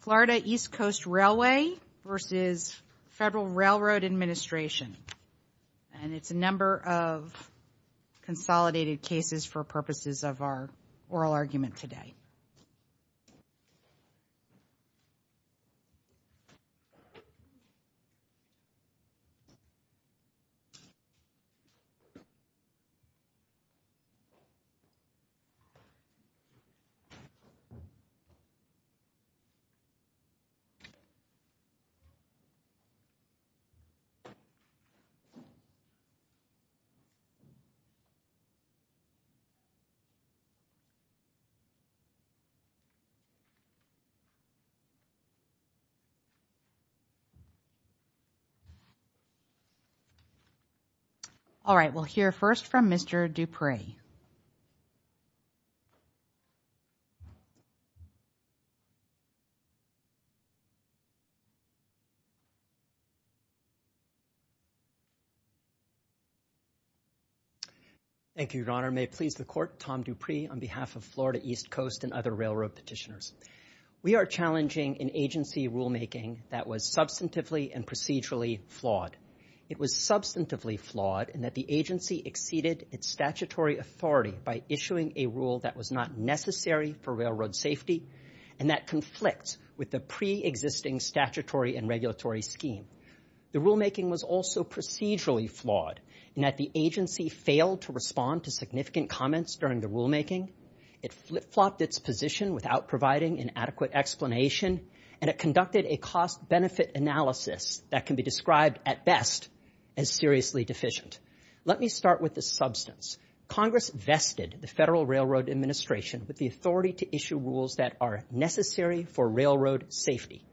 Florida East Coast Railway v. Federal Railroad Administration, and it's a number of consolidated All right, we'll hear first from Mr. Dupree. Thank you, Your Honor. May it please the Court, Tom Dupree on behalf of Florida East Coast and other railroad petitioners. We are challenging an agency rulemaking that was substantively and procedurally flawed. It was substantively flawed in that the agency exceeded its statutory authority by issuing a rule that was not necessary for railroad safety and that conflicts with the preexisting statutory and regulatory scheme. The rulemaking was also procedurally flawed in that the agency failed to respond to significant comments during the rulemaking. It flopped its position without providing an adequate explanation, and it conducted a cost-benefit analysis that can be described at best as seriously deficient. Let me start with the substance. Congress vested the Federal Railroad Administration with the authority to issue rules that are necessary for railroad safety.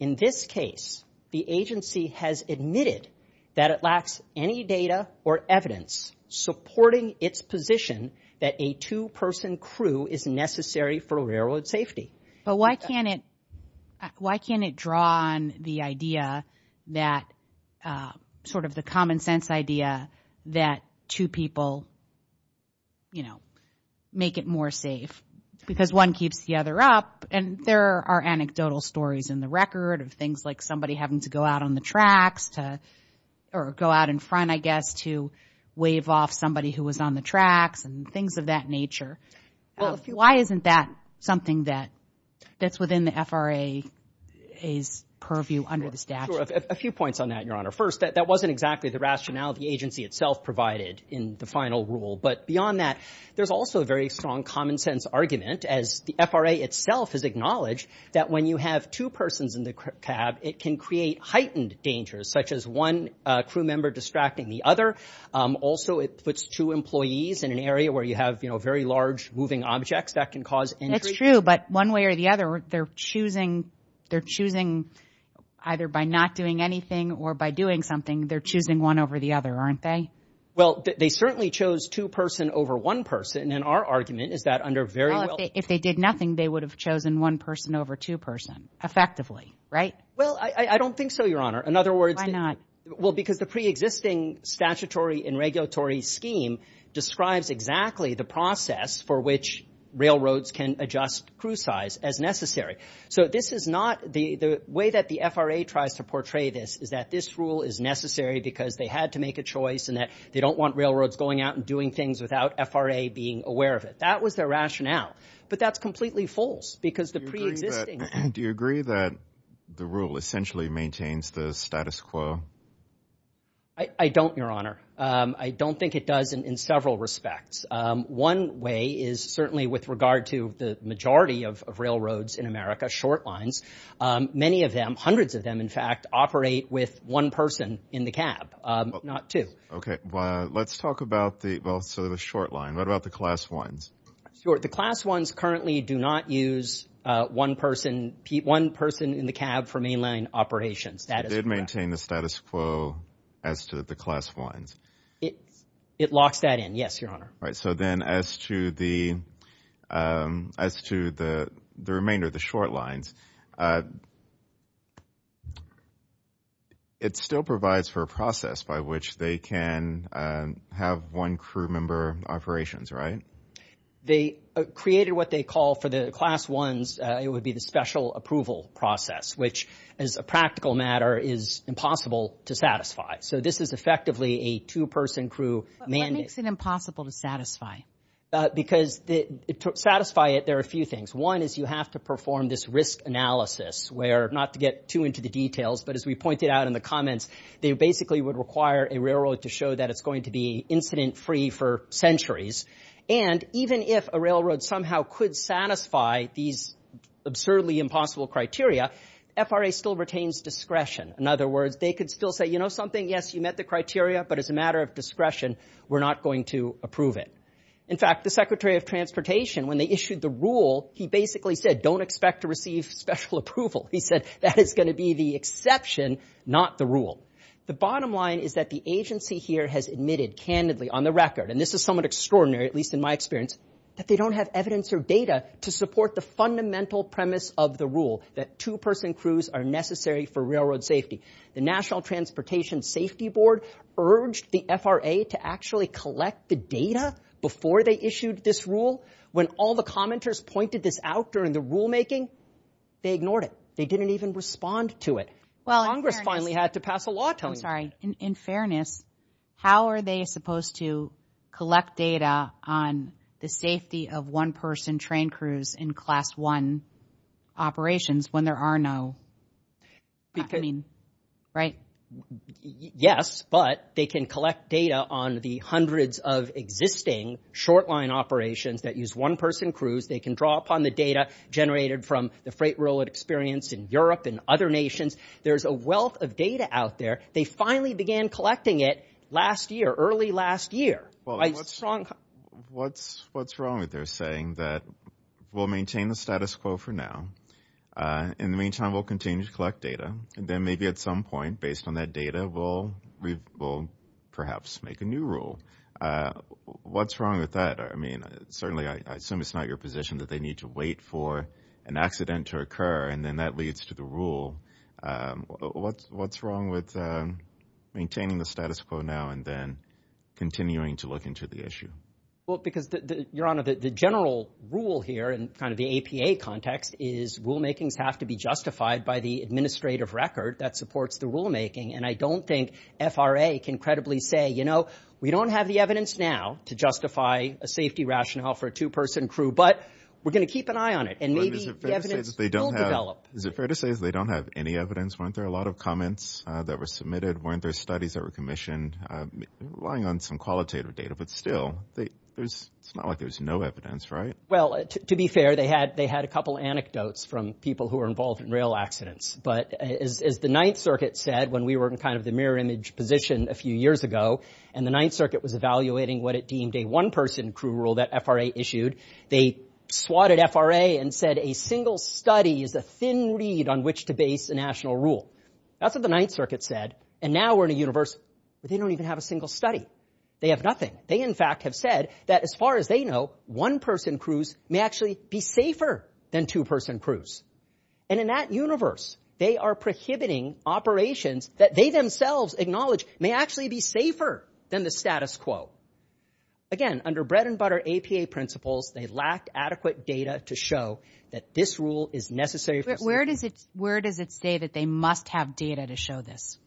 In this case, the agency has admitted that it lacks any data or evidence supporting its position that a two-person crew is necessary for railroad safety. But why can't it draw on the idea that sort of the common sense idea that two people, you know, make it more safe? Because one keeps the other up, and there are anecdotal stories in the record of things like somebody having to go out on the tracks to or go out in front, I guess, to wave off somebody who was on the tracks and things of that nature. Why isn't that something that's within the FRA's purview under the statute? Sure. A few points on that, Your Honor. First, that wasn't exactly the rationality the agency itself provided in the final rule. But beyond that, there's also a very strong common-sense argument, as the FRA itself has acknowledged, that when you have two persons in the cab, it can create heightened dangers, such as one crew member distracting the other. Also, it puts two employees in an area where you have, you know, very large moving objects that can cause injury. That's true. But one way or the other, they're choosing either by not doing anything or by doing something, they're choosing one over the other, aren't they? Well, they certainly chose two person over one person. And our argument is that under very well- Well, if they did nothing, they would have chosen one person over two person, effectively, right? Well, I don't think so, Your Honor. In other words- Why not? Well, because the preexisting statutory and regulatory scheme describes exactly the process for which railroads can adjust crew size as necessary. So this is not the way that the FRA tries to portray this, is that this rule is necessary because they had to make a choice and that they don't want railroads going out and doing things without FRA being aware of it. That was their rationale. But that's completely false because the preexisting- Do you agree that the rule essentially maintains the status quo? I don't, Your Honor. I don't think it does in several respects. One way is certainly with regard to the majority of railroads in America, short lines, many of them, hundreds of them, in fact, operate with one person in the cab, not two. Okay. Well, let's talk about the- well, so the short line. What about the class ones? Sure. The class ones currently do not use one person in the cab for mainline operations. It did maintain the status quo as to the class ones. It locks that in. Yes, Your Honor. All right. So then as to the remainder, the short lines, it still provides for a process by which they can have one crew member operations, right? They created what they call for the class ones, it would be the special approval process, which as a practical matter is impossible to satisfy. So this is effectively a two-person crew mandate. What makes it impossible to satisfy? Because to satisfy it, there are a few things. One is you have to perform this risk analysis where, not to get too into the details, but as we pointed out in the comments, they basically would require a railroad to show that it's going to be incident-free for centuries. And even if a railroad somehow could satisfy these absurdly impossible criteria, FRA still retains discretion. In other words, they could still say, you know something, yes, you met the criteria, but as a matter of discretion, we're not going to approve it. In fact, the Secretary of Transportation, when they issued the rule, he basically said, don't expect to receive special approval. He said, that is going to be the exception, not the rule. The bottom line is that the agency here has admitted candidly on the record, and this is somewhat extraordinary, at least in my experience, that they don't have evidence or data to support the fundamental premise of the rule, that two-person crews are necessary for railroad safety. The National Transportation Safety Board urged the FRA to actually collect the data before they issued this rule. When all the commenters pointed this out during the rulemaking, they ignored it. They didn't even respond to it. Congress finally had to pass a law telling them. I'm sorry, in fairness, how are they supposed to collect data on the safety of one-person train crews in class one operations when there are no, I mean, right? Yes, but they can collect data on the hundreds of existing short-line operations that use one-person crews. They can draw upon the data generated from the freight railroad experience in Europe and other nations. There's a wealth of data out there. They finally began collecting it last year, early last year. Well, what's wrong with their saying that we'll maintain the status quo for now. In the meantime, we'll continue to collect data. And then maybe at some point, based on that data, we'll perhaps make a new rule. What's wrong with that? I mean, certainly, I assume it's not your position that they need to wait for an accident to occur, and then that leads to the rule. What's wrong with maintaining the status quo now and then continuing to look into the issue? Well, because, Your Honor, the general rule here in kind of the APA context is rulemakings have to be justified by the administrative record that supports the rulemaking. And I don't think FRA can credibly say, you know, we don't have the evidence now to justify a safety rationale for a two-person crew, but we're going to keep an eye on it, and maybe the evidence will develop. Is it fair to say they don't have any evidence? Weren't there a lot of comments that were submitted? Weren't there studies that were commissioned, relying on some qualitative data? But still, it's not like there's no evidence, right? Well, to be fair, they had a couple anecdotes from people who were involved in rail accidents. But as the Ninth Circuit said, when we were in kind of the mirror image position a few FRA issued, they swatted FRA and said a single study is a thin reed on which to base a national rule. That's what the Ninth Circuit said. And now we're in a universe where they don't even have a single study. They have nothing. They, in fact, have said that, as far as they know, one-person crews may actually be safer than two-person crews. And in that universe, they are prohibiting operations that they themselves acknowledge may actually be safer than the status quo. Again, under bread-and-butter APA principles, they lacked adequate data to show that this rule is necessary. Where does it say that they must have data to show this?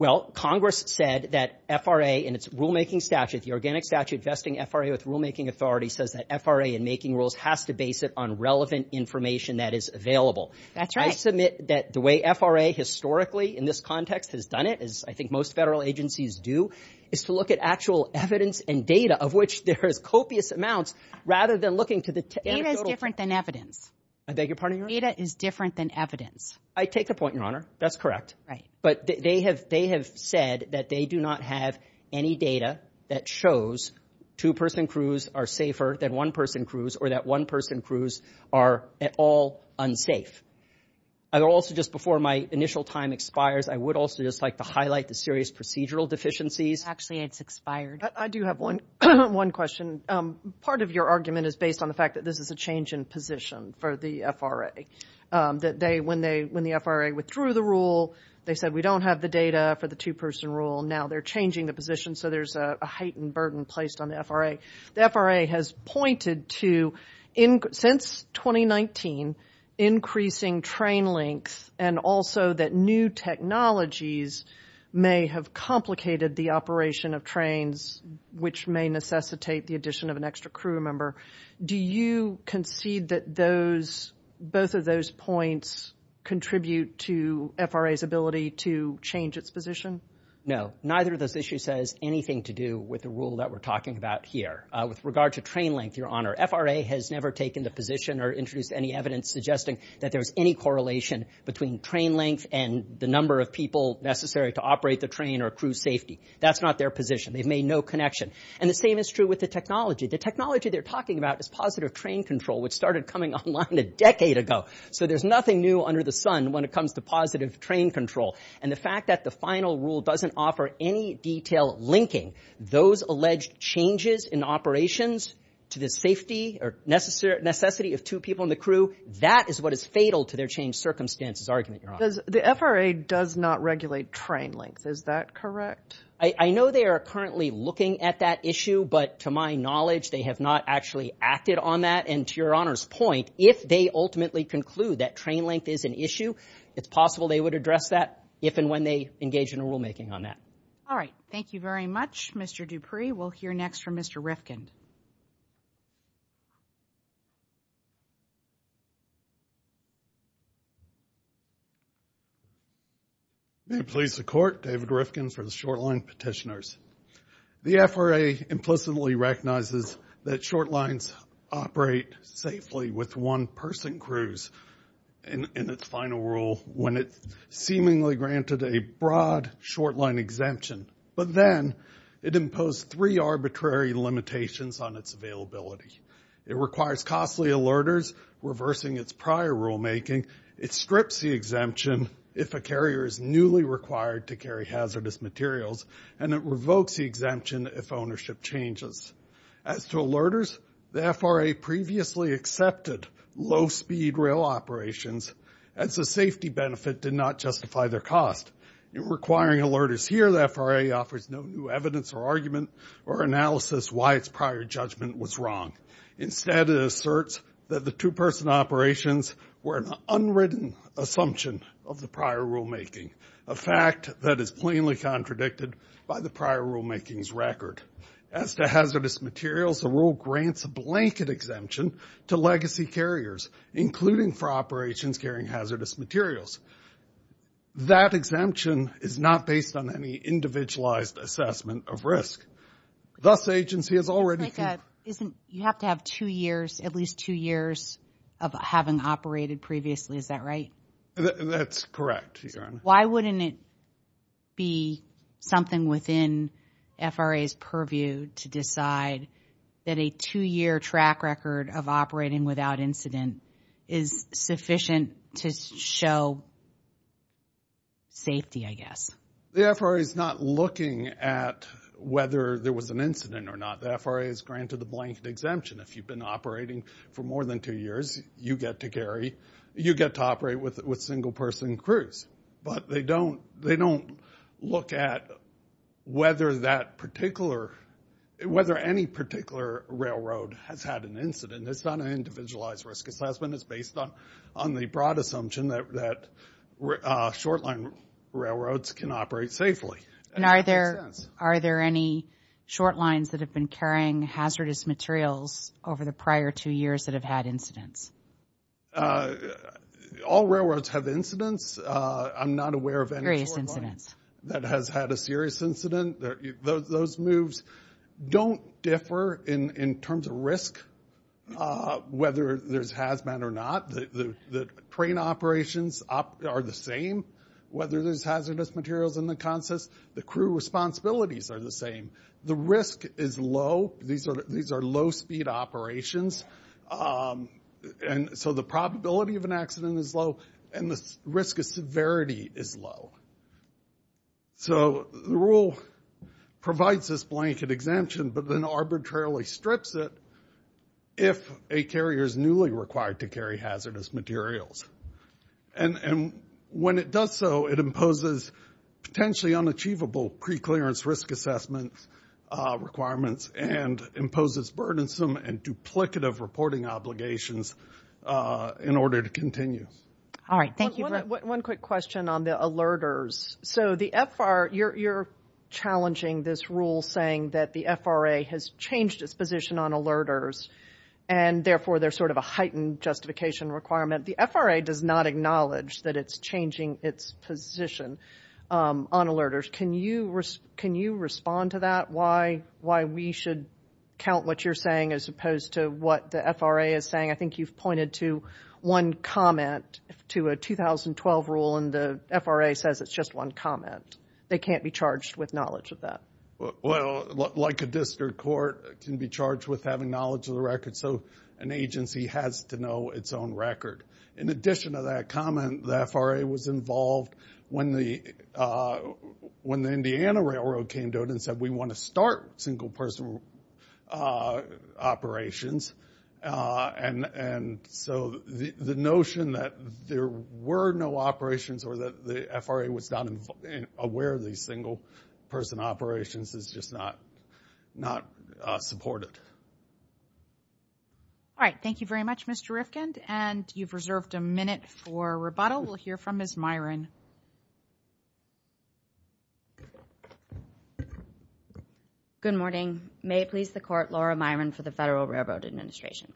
Well, Congress said that FRA in its rulemaking statute, the organic statute vesting FRA with rulemaking authority, says that FRA in making rules has to base it on relevant information that is available. That's right. I submit that the way FRA historically in this context has done it, as I think most federal agencies do, is to look at actual evidence and data, of which there is copious amounts, rather than looking to the anecdotal... Data is different than evidence. I beg your pardon? Data is different than evidence. I take the point, Your Honor. That's correct. Right. But they have said that they do not have any data that shows two-person crews are safer than one-person crews or that one-person crews are at all unsafe. Also, just before my initial time expires, I would also just like to highlight the serious procedural deficiencies. Actually, it's expired. I do have one question. Part of your argument is based on the fact that this is a change in position for the FRA, that when the FRA withdrew the rule, they said, we don't have the data for the two-person rule. Now, they're changing the position, so there's a heightened burden placed on the FRA. The FRA has pointed to, since 2019, increasing train lengths and also that new technologies may have complicated the operation of trains, which may necessitate the addition of an extra crew member. Do you concede that both of those points contribute to FRA's ability to change its position? No. Neither of those issues has anything to do with the rule that we're talking about here. With regard to train length, Your Honor, FRA has never taken the position or introduced any evidence suggesting that there's any correlation between train length and the number of people necessary to operate the train or crew safety. That's not their position. They've made no connection. And the same is true with the technology. The technology they're talking about is positive train control, which started coming online a decade ago. So there's nothing new under the sun when it comes to positive train control. And the fact that the final rule doesn't offer any detail linking those alleged changes in operations to the safety or necessity of two people in the crew, that is what is fatal to their change circumstances argument, Your Honor. The FRA does not regulate train length. Is that correct? I know they are currently looking at that issue, but to my knowledge, they have not actually acted on that. And to Your Honor's point, if they ultimately conclude that train length is an issue, it's possible they would address that if and when they engage in a rulemaking on that. All right. Thank you very much, Mr. Dupree. We'll hear next from Mr. Rifkind. May it please the Court, David Rifkind for the short-line petitioners. The FRA implicitly recognizes that short lines operate safely with one-person crews in its final rule when it seemingly granted a broad short-line exemption. But then it imposed three arbitrary limitations on its availability. It requires costly alerters, reversing its prior rulemaking. It strips the exemption if a carrier is newly required to carry hazardous materials. And it revokes the exemption if ownership changes. As to alerters, the FRA previously accepted low-speed rail operations as a safety benefit did not justify their cost. Requiring alerters here, the FRA offers no new evidence or argument or analysis why its prior judgment was wrong. Instead, it asserts that the two-person operations were an unwritten assumption of the prior rulemaking, a fact that is plainly contradicted by the prior rulemaking's record. As to hazardous materials, the rule grants a blanket exemption to legacy carriers, including for operations carrying hazardous materials. That exemption is not based on any individualized assessment of risk. Thus, agency has already... It's like a... Isn't... You have to have two years, at least two years of having operated previously, is that right? That's correct, Your Honor. Why wouldn't it be something within FRA's purview to decide that a two-year track record of operating without incident is sufficient to show safety, I guess? The FRA is not looking at whether there was an incident or not. The FRA has granted the blanket exemption. If you've been operating for more than two years, you get to carry... You get to operate with single-person crews. But they don't look at whether that particular... Whether any particular railroad has had an incident. It's not an individualized risk assessment. It's based on the broad assumption that short-line railroads can operate safely. And are there any short lines that have been carrying hazardous materials over the prior two years that have had incidents? All railroads have incidents. I'm not aware of any short line that has had a serious incident. Those moves don't differ in terms of risk, whether there's hazmat or not. The train operations are the same, whether there's hazardous materials in the consist. The crew responsibilities are the same. The risk is low. These are low-speed operations. And so the probability of an accident is low, and the risk of severity is low. So the rule provides this blanket exemption, but then arbitrarily strips it if a carrier is newly required to carry hazardous materials. And when it does so, it imposes potentially unachievable pre-clearance risk assessment requirements and imposes burdensome and duplicative reporting obligations in order to continue. All right. Thank you. One quick question on the alerters. So the FRA, you're challenging this rule saying that the FRA has changed its position on alerters, and therefore there's sort of a heightened justification requirement. The FRA does not acknowledge that it's changing its position on alerters. Can you respond to that, why we should count what you're saying as opposed to what the FRA is saying? I think you've pointed to one comment to a 2012 rule, and the FRA says it's just one comment. They can't be charged with knowledge of that. Well, like a district court, it can be charged with having knowledge of the record. So an agency has to know its own record. In addition to that comment, the FRA was involved when the Indiana Railroad came to it and said we want to start single-person operations. And so the notion that there were no operations or that the FRA was not aware of these single-person operations is just not supported. All right. Thank you very much, Mr. Rifkind. And you've reserved a minute for rebuttal. We'll hear from Ms. Myron. Good morning. May it please the Court, Laura Myron for the Federal Railroad Administration.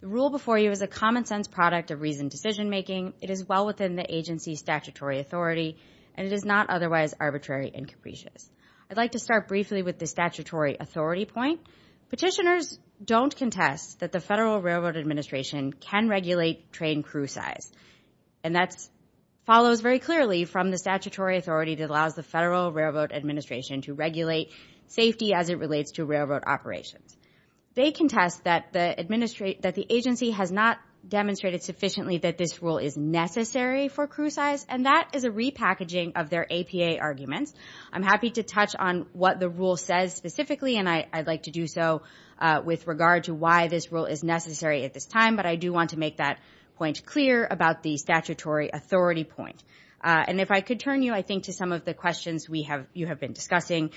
The rule before you is a common-sense product of reasoned decision-making. It is well within the agency's statutory authority, and it is not otherwise arbitrary and capricious. I'd like to start briefly with the statutory authority point. Petitioners don't contest that the Federal Railroad Administration can regulate train crew size. And that follows very clearly from the statutory authority that allows the Federal Railroad Administration to regulate safety as it relates to railroad operations. They contest that the agency has not demonstrated sufficiently that this rule is necessary for crew size, and that is a repackaging of their APA arguments. I'm happy to touch on what the rule says specifically, and I'd like to do so with regard to why this rule is necessary at this time, but I do want to make that point clear about the statutory authority point. And if I could turn you, I think, to some of the questions you have been discussing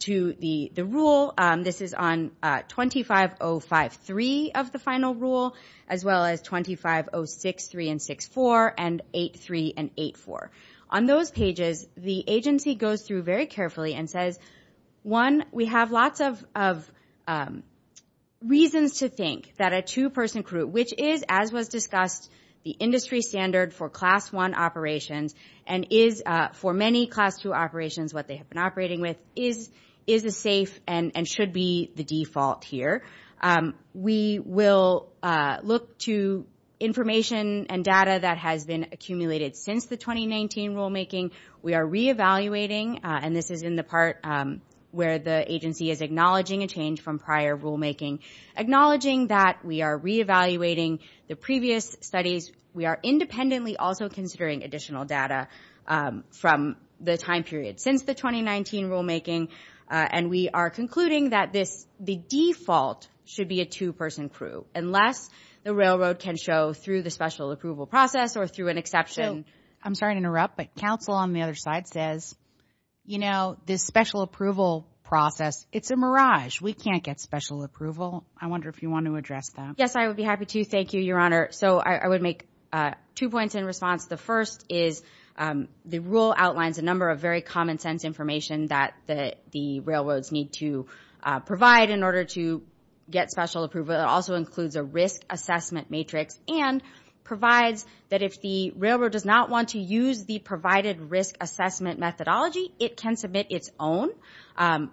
to the rule. This is on 25053 of the final rule, as well as 25063 and 6-4, and 8-3 and 8-4. On those pages, the agency goes through very carefully and says, one, we have lots of reasons to think that a two-person crew, which is, as was discussed, the industry standard for Class I operations, and is, for many Class II operations, what they have been operating with, is safe and should be the default here. We will look to information and data that has been accumulated since the 2019 rulemaking. We are re-evaluating, and this is in the part where the agency is acknowledging a change from prior rulemaking, acknowledging that we are re-evaluating the previous studies. We are independently also considering additional data from the time period since the 2019 rulemaking, and we are concluding that the default should be a two-person crew, unless the railroad can show, through the special approval process or through an exception. So, I'm sorry to interrupt, but counsel on the other side says, you know, this special approval process, it's a mirage. We can't get special approval. I wonder if you want to address that. Yes, I would be happy to. Thank you, Your Honor. So, I would make two points in response. The first is, the rule outlines a number of very common sense information that the railroads need to provide in order to get special approval. It also includes a risk assessment matrix, and provides that if the railroad does not want to use the provided risk assessment methodology, it can submit its own, and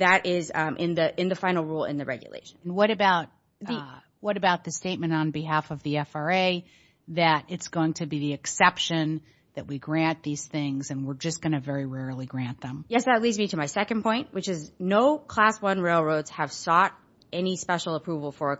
that is in the final rule in the regulation. What about the statement on behalf of the FRA that it's going to be the exception that we grant these things, and we're just going to very rarely grant them? Yes, that leads me to my second point, which is, no class one railroads have sought any special approval for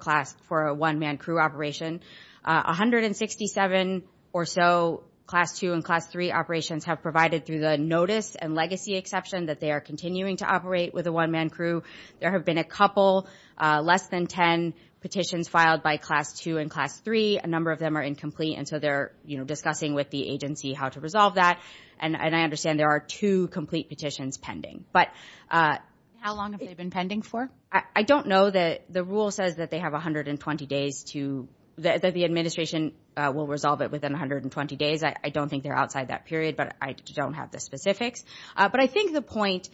a one-man crew operation. 167 or so class two and class three operations have provided through the notice and legacy exception that they are continuing to operate with a one-man crew. There have been a couple, less than 10 petitions filed by class two and class three. A number of them are incomplete, and so they're discussing with the agency how to resolve that, and I understand there are two complete petitions pending. But how long have they been pending for? I don't know. The rule says that they have 120 days to, that the administration will resolve it within 120 days. I don't think they're outside that period, but I don't have the specifics. But I think the point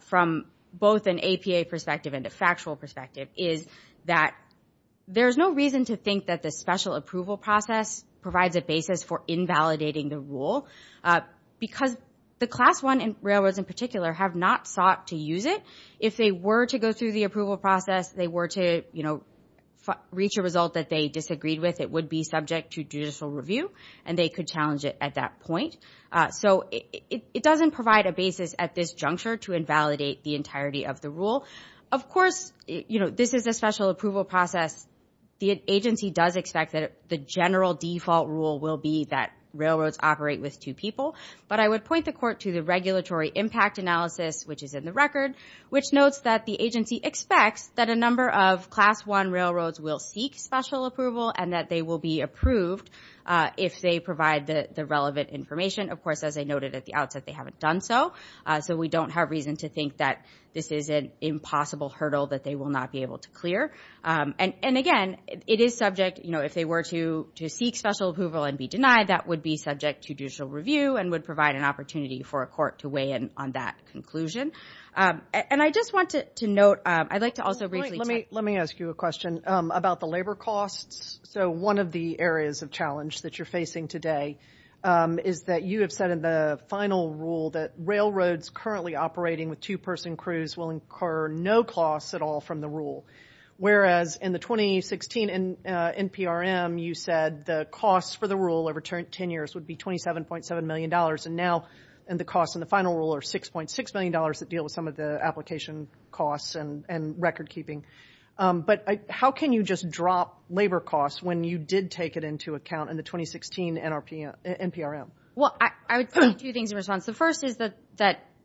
from both an APA perspective and a factual perspective is that there's no reason to think that the special approval process provides a basis for invalidating the rule, because the class one railroads in particular have not sought to use it. If they were to go through the approval process, they were to reach a result that they disagreed with, it would be subject to judicial review, and they could challenge it at that point. So it doesn't provide a basis at this juncture to invalidate the entirety of the rule. Of course, you know, this is a special approval process. The agency does expect that the general default rule will be that railroads operate with two people. But I would point the court to the regulatory impact analysis, which is in the record, which notes that the agency expects that a number of class one railroads will seek special approval and that they will be approved if they provide the relevant information. Of course, as I noted at the outset, they haven't done so. So we don't have reason to think that this is an impossible hurdle that they will not be able to clear. And again, it is subject, you know, if they were to seek special approval and be denied, that would be subject to judicial review and would provide an opportunity for a court to weigh in on that conclusion. And I just wanted to note, I'd like to also briefly... Let me ask you a question about the labor costs. So one of the areas of challenge that you're facing today is that you have said in the final rule that railroads currently operating with two-person crews will incur no costs at all from the rule. Whereas in the 2016 NPRM, you said the costs for the rule over 10 years would be $27.7 million. And now the costs in the final rule are $6.6 million that deal with some of the application costs and record keeping. But how can you just drop labor costs when you did take it into account in the 2016 NPRM? Well, I would say two things in response. The first is that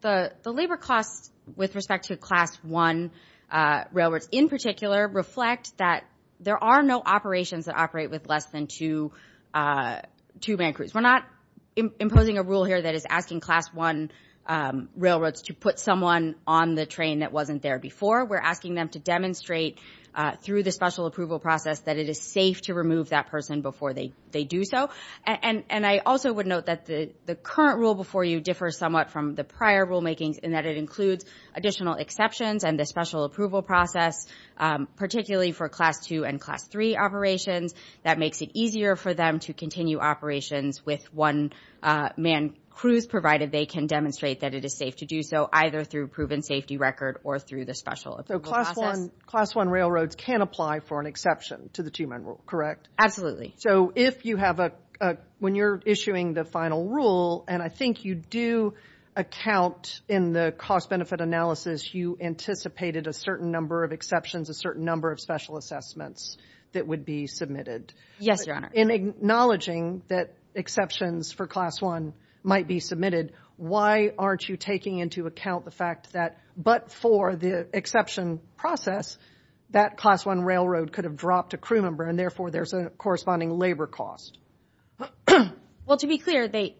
the labor costs with respect to Class 1 railroads in particular reflect that there are no operations that operate with less than two-man crews. We're not imposing a rule here that is asking Class 1 railroads to put someone on the train that wasn't there before. We're asking them to demonstrate through the special approval process that it is safe to remove that person before they do so. And I also would note that the current rule before you differs somewhat from the prior rulemakings in that it includes additional exceptions and the special approval process, particularly for Class 2 and Class 3 operations. That makes it easier for them to continue operations with one-man crews provided they can demonstrate that it is safe to do so either through a proven safety record or through the special approval process. So Class 1 railroads can apply for an exception to the two-man rule, correct? Absolutely. So if you have a, when you're issuing the final rule, and I think you do account in the cost-benefit analysis, you anticipated a certain number of exceptions, a certain number of special assessments that would be submitted. Yes, Your Honor. In acknowledging that exceptions for Class 1 might be submitted, why aren't you taking into account the fact that, but for the exception process, that Class 1 railroad could have dropped a crew member, and therefore there's a corresponding labor cost? Well, to be clear, they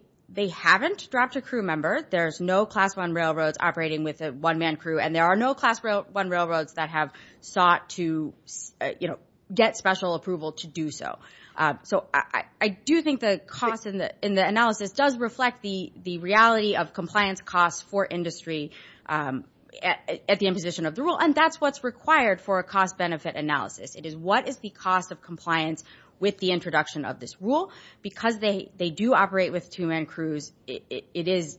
haven't dropped a crew member. There's no Class 1 railroads operating with a one-man crew, and there are no Class 1 railroads that have sought to, you know, get special approval to do so. So I do think the cost in the analysis does reflect the reality of compliance costs for industry at the imposition of the rule, and that's what's required for a cost-benefit analysis. It is what is the cost of compliance with the introduction of this rule? Because they do operate with two-man crews, it is,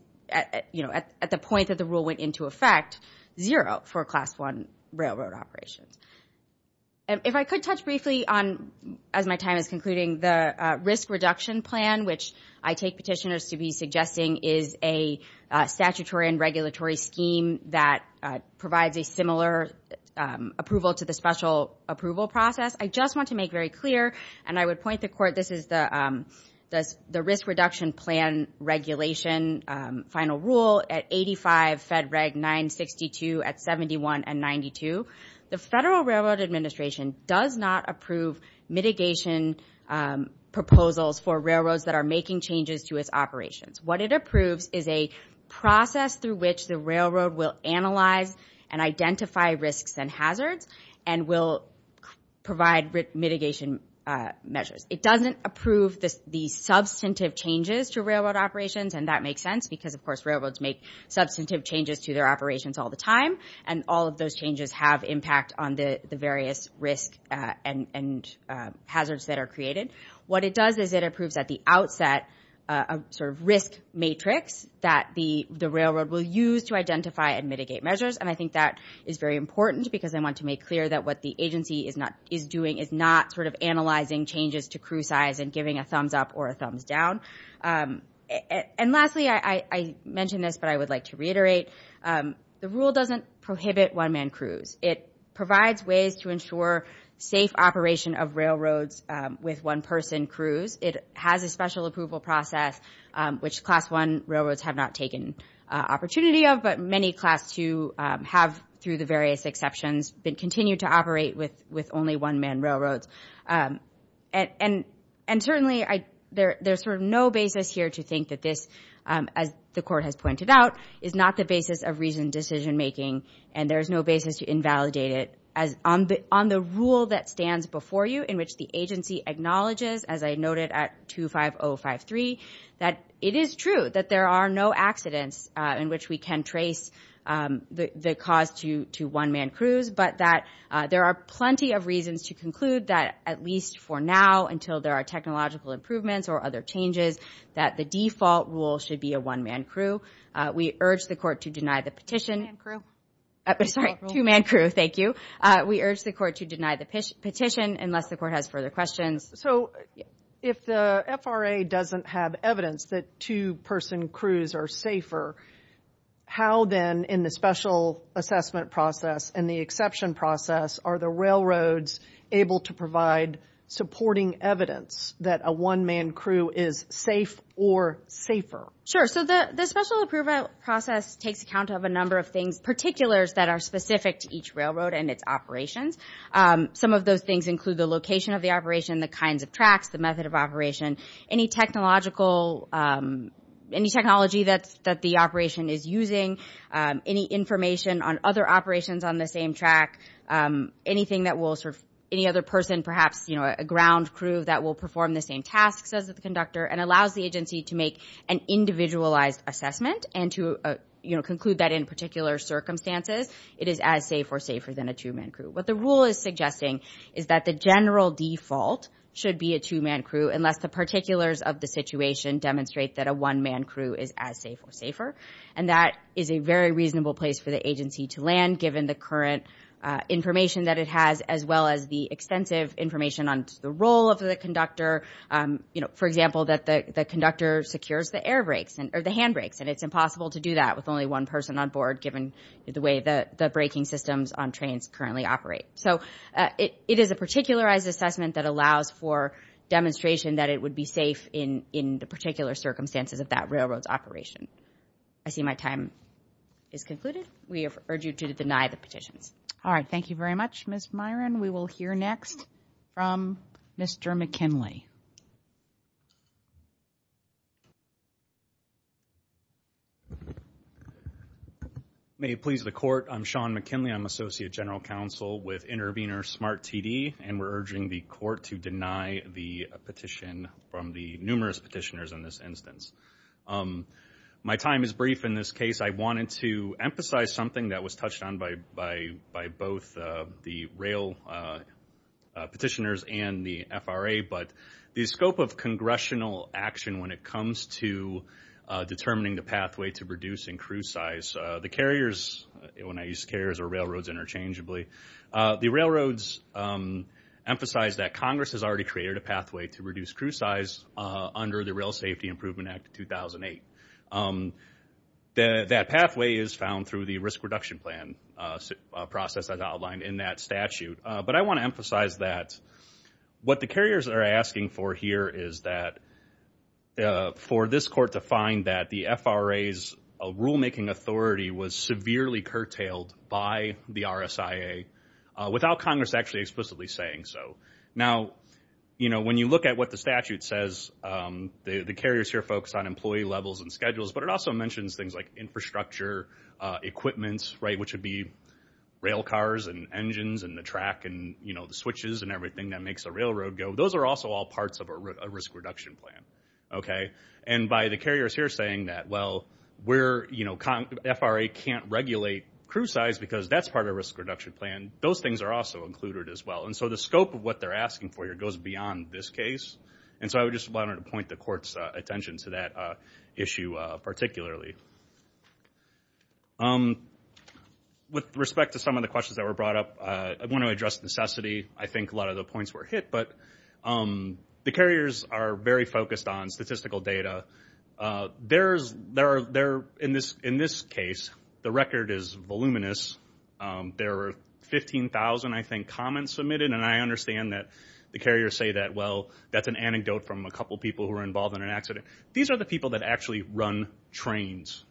you know, at the point that the rule went into effect, zero for Class 1 railroad operations. If I could touch briefly on, as my time is concluding, the risk reduction plan, which I take petitioners to be suggesting is a statutory and regulatory scheme that provides a similar approval to the special approval process, I just want to make very clear, and I would have said reg. 962 at 71 and 92. The Federal Railroad Administration does not approve mitigation proposals for railroads that are making changes to its operations. What it approves is a process through which the railroad will analyze and identify risks and hazards and will provide mitigation measures. It doesn't approve the substantive changes to railroad operations, and that makes sense because, of course, railroads make substantive changes to their operations all the time, and all of those changes have impact on the various risks and hazards that are created. What it does is it approves at the outset a sort of risk matrix that the railroad will use to identify and mitigate measures, and I think that is very important because I want to make clear that what the agency is doing is not sort of analyzing changes to crew size and giving a thumbs up or a thumbs down. And lastly, I mentioned this, but I would like to reiterate, the rule doesn't prohibit one-man crews. It provides ways to ensure safe operation of railroads with one-person crews. It has a special approval process, which Class I railroads have not taken opportunity of, but many Class II have, through the various exceptions, continued to operate with only one-man railroads. And certainly, there's sort of no basis here to think that this, as the Court has pointed out, is not the basis of reasoned decision-making, and there's no basis to invalidate it. On the rule that stands before you, in which the agency acknowledges, as I noted at 25053, that it is true that there are no accidents in which we can trace the cause to one-man crews, but that there are plenty of reasons to conclude that, at least for now, until there are technological improvements or other changes, that the default rule should be a one-man crew. We urge the Court to deny the petition. Two-man crew. Sorry, two-man crew. Thank you. We urge the Court to deny the petition, unless the Court has further questions. So if the FRA doesn't have evidence that two-person crews are safer, how then, in the special assessment process and the exception process, are the railroads able to provide supporting evidence that a one-man crew is safe or safer? Sure. So the special approval process takes account of a number of things, particulars that are specific to each railroad and its operations. Some of those things include the location of the operation, the kinds of tracks, the method of operation, any technological, any technology that the operation is using, any information on other operations on the same track, any other person, perhaps a ground crew that will perform the same tasks as the conductor, and allows the agency to make an individualized assessment and to conclude that, in particular circumstances, it is as safe or safer than a two-man crew. What the rule is suggesting is that the general default should be a two-man crew, unless the particulars of the situation demonstrate that a one-man crew is as safe or safer, and that is a very reasonable place for the agency to land, given the current information that it has, as well as the extensive information on the role of the conductor. For example, that the conductor secures the air brakes, or the hand brakes, and it's impossible to do that with only one person on board, given the way that the braking systems on trains currently operate. So it is a particularized assessment that allows for demonstration that it would be safe in the particular circumstances of that railroad's operation. I see my time is concluded. We have urged you to deny the petitions. All right. Thank you very much, Ms. Myron. We will hear next from Mr. McKinley. May it please the Court. I'm Sean McKinley. I'm Associate General Counsel with Intervenor Smart TD, and we're urging the Court to deny the petition from the numerous petitioners in this instance. My time is brief in this case. I wanted to emphasize something that was touched on by both the rail petitioners and the FRA, but the scope of congressional action when it comes to determining the pathway to reducing crew size. The carriers, when I use carriers or railroads interchangeably, the railroads emphasize that Congress has already created a pathway to reduce crew size under the Rail Safety Improvement Act of 2008. That pathway is found through the risk reduction plan process as outlined in that statute. But I want to emphasize that what the carriers are asking for here is that for this Court to find that the FRA's rulemaking authority was severely curtailed by the RSIA without Congress actually explicitly saying so. Now, when you look at what the statute says, the carriers here focus on employee levels and schedules, but it also mentions things like infrastructure, equipment, which would be rail cars and engines and the track and the switches and everything that makes a railroad go. Those are also all parts of a risk reduction plan. By the carriers here saying that, well, FRA can't regulate crew size because that's part of a risk reduction plan, those things are also included as well. So the scope of what they're asking for here goes beyond this case, and so I just wanted to point the Court's attention to that issue particularly. With respect to some of the questions that were brought up, I want to address necessity. I think a lot of the points were hit, but the carriers are very focused on statistical data. In this case, the record is voluminous. There were 15,000, I think, comments submitted, and I understand that the carriers say that, well, that's an anecdote from a couple people who were involved in an accident. These are the people that actually run trains.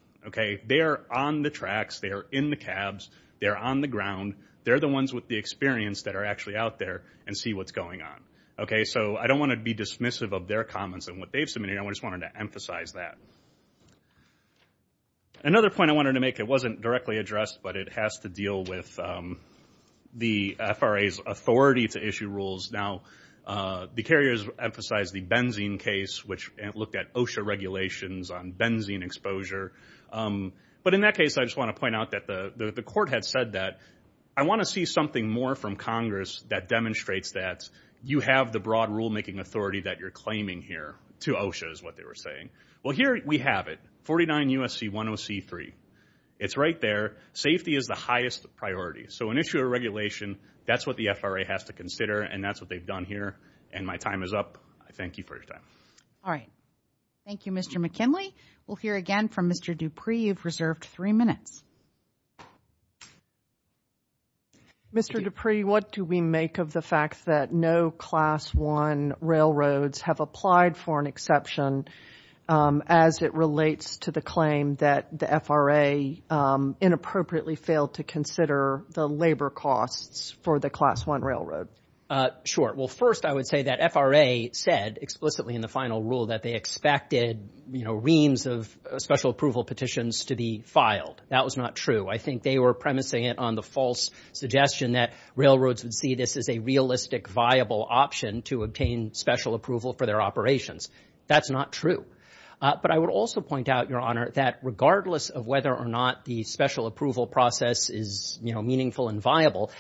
They are on the tracks, they are in the cabs, they are on the ground. They're the ones with the experience that are actually out there and see what's going on. So I don't want to be dismissive of their comments and what they've submitted. I just wanted to emphasize that. Another point I wanted to make, it wasn't directly addressed, but it has to deal with the FRA's authority to issue rules. Now, the carriers emphasized the benzene case, which looked at OSHA regulations on benzene exposure. But in that case, I just want to point out that the Court had said that, I want to see something more from Congress that demonstrates that you have the broad rulemaking authority that you're claiming here, to OSHA is what they were saying. Well, here we have it, 49 U.S.C. 10C3. It's right there. Safety is the highest priority. So an issue of regulation, that's what the FRA has to consider, and that's what they've done here. And my time is up. I thank you for your time. All right. Thank you, Mr. McKinley. We'll hear again from Mr. Dupree. You've reserved three minutes. Mr. Dupree, what do we make of the fact that no Class 1 railroads have applied for an exception as it relates to the claim that the FRA inappropriately failed to consider the labor costs for the Class 1 railroad? Sure. Well, first, I would say that FRA said explicitly in the final rule that they expected, you know, reams of special approval petitions to be filed. That was not true. I think they were premising it on the false suggestion that railroads would see this as a realistic, viable option to obtain special approval for their operations. That's not true. But I would also point out, Your Honor, that regardless of whether or not the special approval process is, you know, meaningful and viable,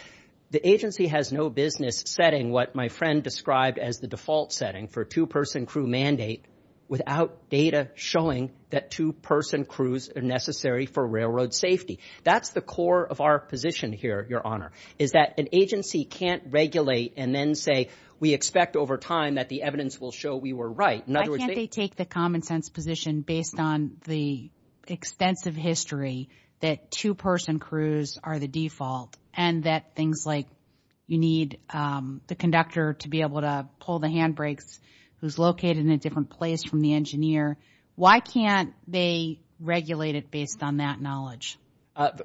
the agency has no business setting what my friend described as the default setting for a two-person crew mandate without data showing that two-person crews are necessary for railroad safety. That's the core of our position here, Your Honor, is that an agency can't regulate and then say, we expect over time that the evidence will show we were right. In other words, they... Why can't they take the common sense position based on the extensive history that two-person crews are the default and that things like you need the conductor to be able to pull the handbrakes who's located in a different place from the engineer? Why can't they regulate it based on that knowledge?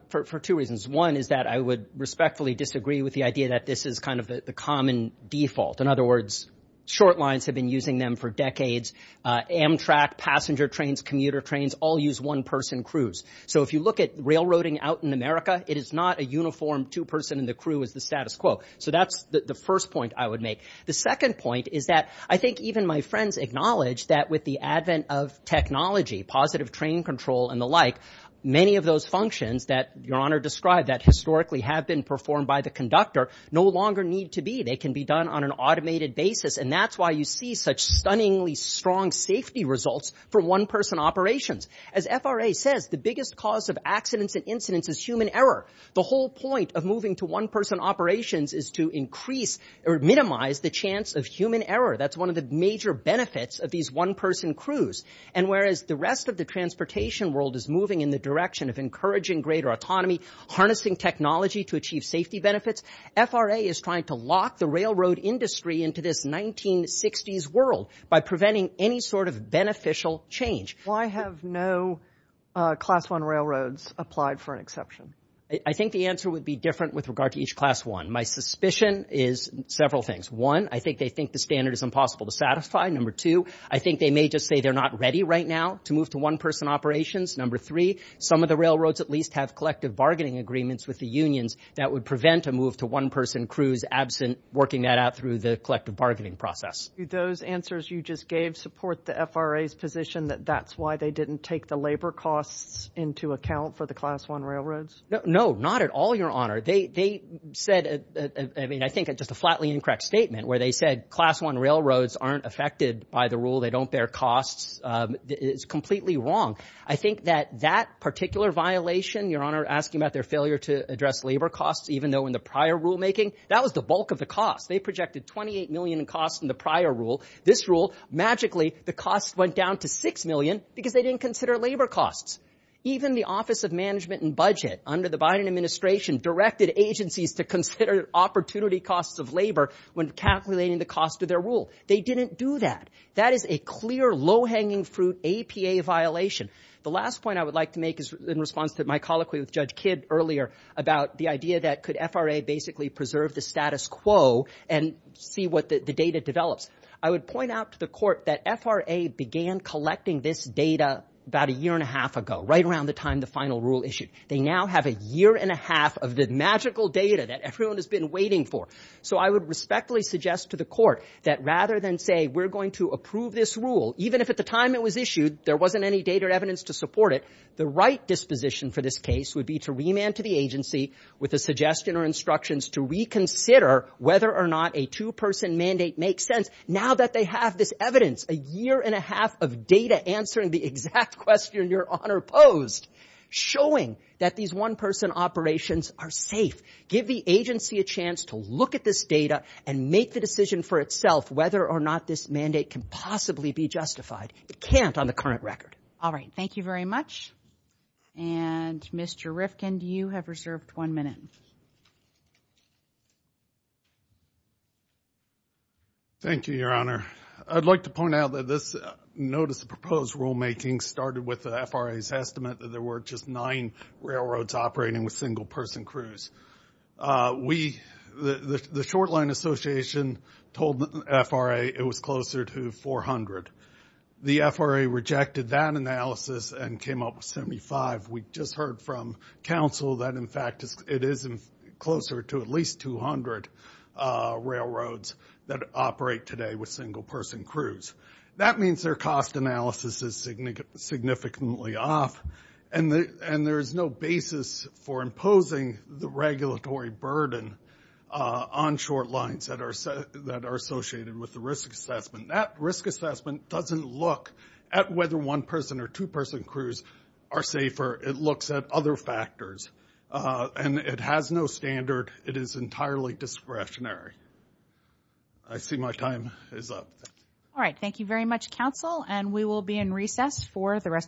For two reasons. One is that I would respectfully disagree with the idea that this is kind of the common default. In other words, short lines have been using them for decades. Amtrak, passenger trains, commuter trains all use one-person crews. So if you look at railroading out in America, it is not a uniform two-person and the crew is the status quo. So that's the first point I would make. The second point is that I think even my friends acknowledge that with the advent of technology, positive train control and the like, many of those functions that Your Honor described that historically have been performed by the conductor no longer need to be. They can be done on an automated basis. And that's why you see such stunningly strong safety results for one-person operations. As FRA says, the biggest cause of accidents and incidents is human error. The whole point of moving to one-person operations is to increase or minimize the chance of human error. That's one of the major benefits of these one-person crews. And whereas the rest of the transportation world is moving in the direction of encouraging greater autonomy, harnessing technology to achieve safety benefits, FRA is trying to lock the railroad industry into this 1960s world by preventing any sort of beneficial change. Why have no class one railroads applied for an exception? I think the answer would be different with regard to each class one. My suspicion is several things. One, I think they think the standard is impossible to satisfy. Number two, I think they may just say they're not ready right now to move to one-person operations. Number three, some of the railroads at least have collective bargaining agreements with the unions that would prevent a move to one-person crews absent working that out through the collective bargaining process. Do those answers you just gave support the FRA's position that that's why they didn't take the labor costs into account for the class one railroads? No, not at all, Your Honor. They said, I mean, I think just a flatly incorrect statement where they said class one railroads aren't affected by the rule, they don't bear costs is completely wrong. I think that that particular violation, Your Honor, asking about their failure to address labor costs, even though in the prior rulemaking, that was the bulk of the cost. They projected 28 million in costs in the prior rule. This rule, magically, the costs went down to six million because they didn't consider labor costs. Even the Office of Management and Budget under the Biden administration directed agencies to consider opportunity costs of labor when calculating the cost of their rule. They didn't do that. That is a clear, low-hanging fruit APA violation. The last point I would like to make is in response to my colloquy with Judge Kidd earlier about the idea that could FRA basically preserve the status quo and see what the data develops. I would point out to the court that FRA began collecting this data about a year and a half ago, right around the time the final rule issued. They now have a year and a half of the magical data that everyone has been waiting for. So I would respectfully suggest to the court that rather than say, we're going to approve this rule, even if at the time it was issued, there wasn't any data or evidence to support it, the right disposition for this case would be to remand to the agency with a suggestion or instructions to reconsider whether or not a two-person mandate makes sense. Now that they have this evidence, a year and a half of data answering the exact question Your Honor posed, showing that these one-person operations are safe, give the agency a chance to look at this data and make the decision for itself whether or not this mandate can possibly be justified. It can't on the current record. All right. Thank you very much. And Mr. Rifkin, you have reserved one minute. Thank you, Your Honor. I'd like to point out that this notice of proposed rulemaking started with the FRA's estimate that there were just nine railroads operating with single-person crews. The short-line association told the FRA it was closer to 400. The FRA rejected that analysis and came up with 75. We just heard from counsel that, in fact, it is closer to at least 200 railroads that operate today with single-person crews. That means their cost analysis is significantly off, and there is no basis for imposing the regulatory burden on short lines that are associated with the risk assessment. That risk assessment doesn't look at whether one-person or two-person crews are safer. It looks at other factors. And it has no standard. It is entirely discretionary. I see my time is up. All right. Thank you very much, counsel, and we will be in recess for the rest of the hearing.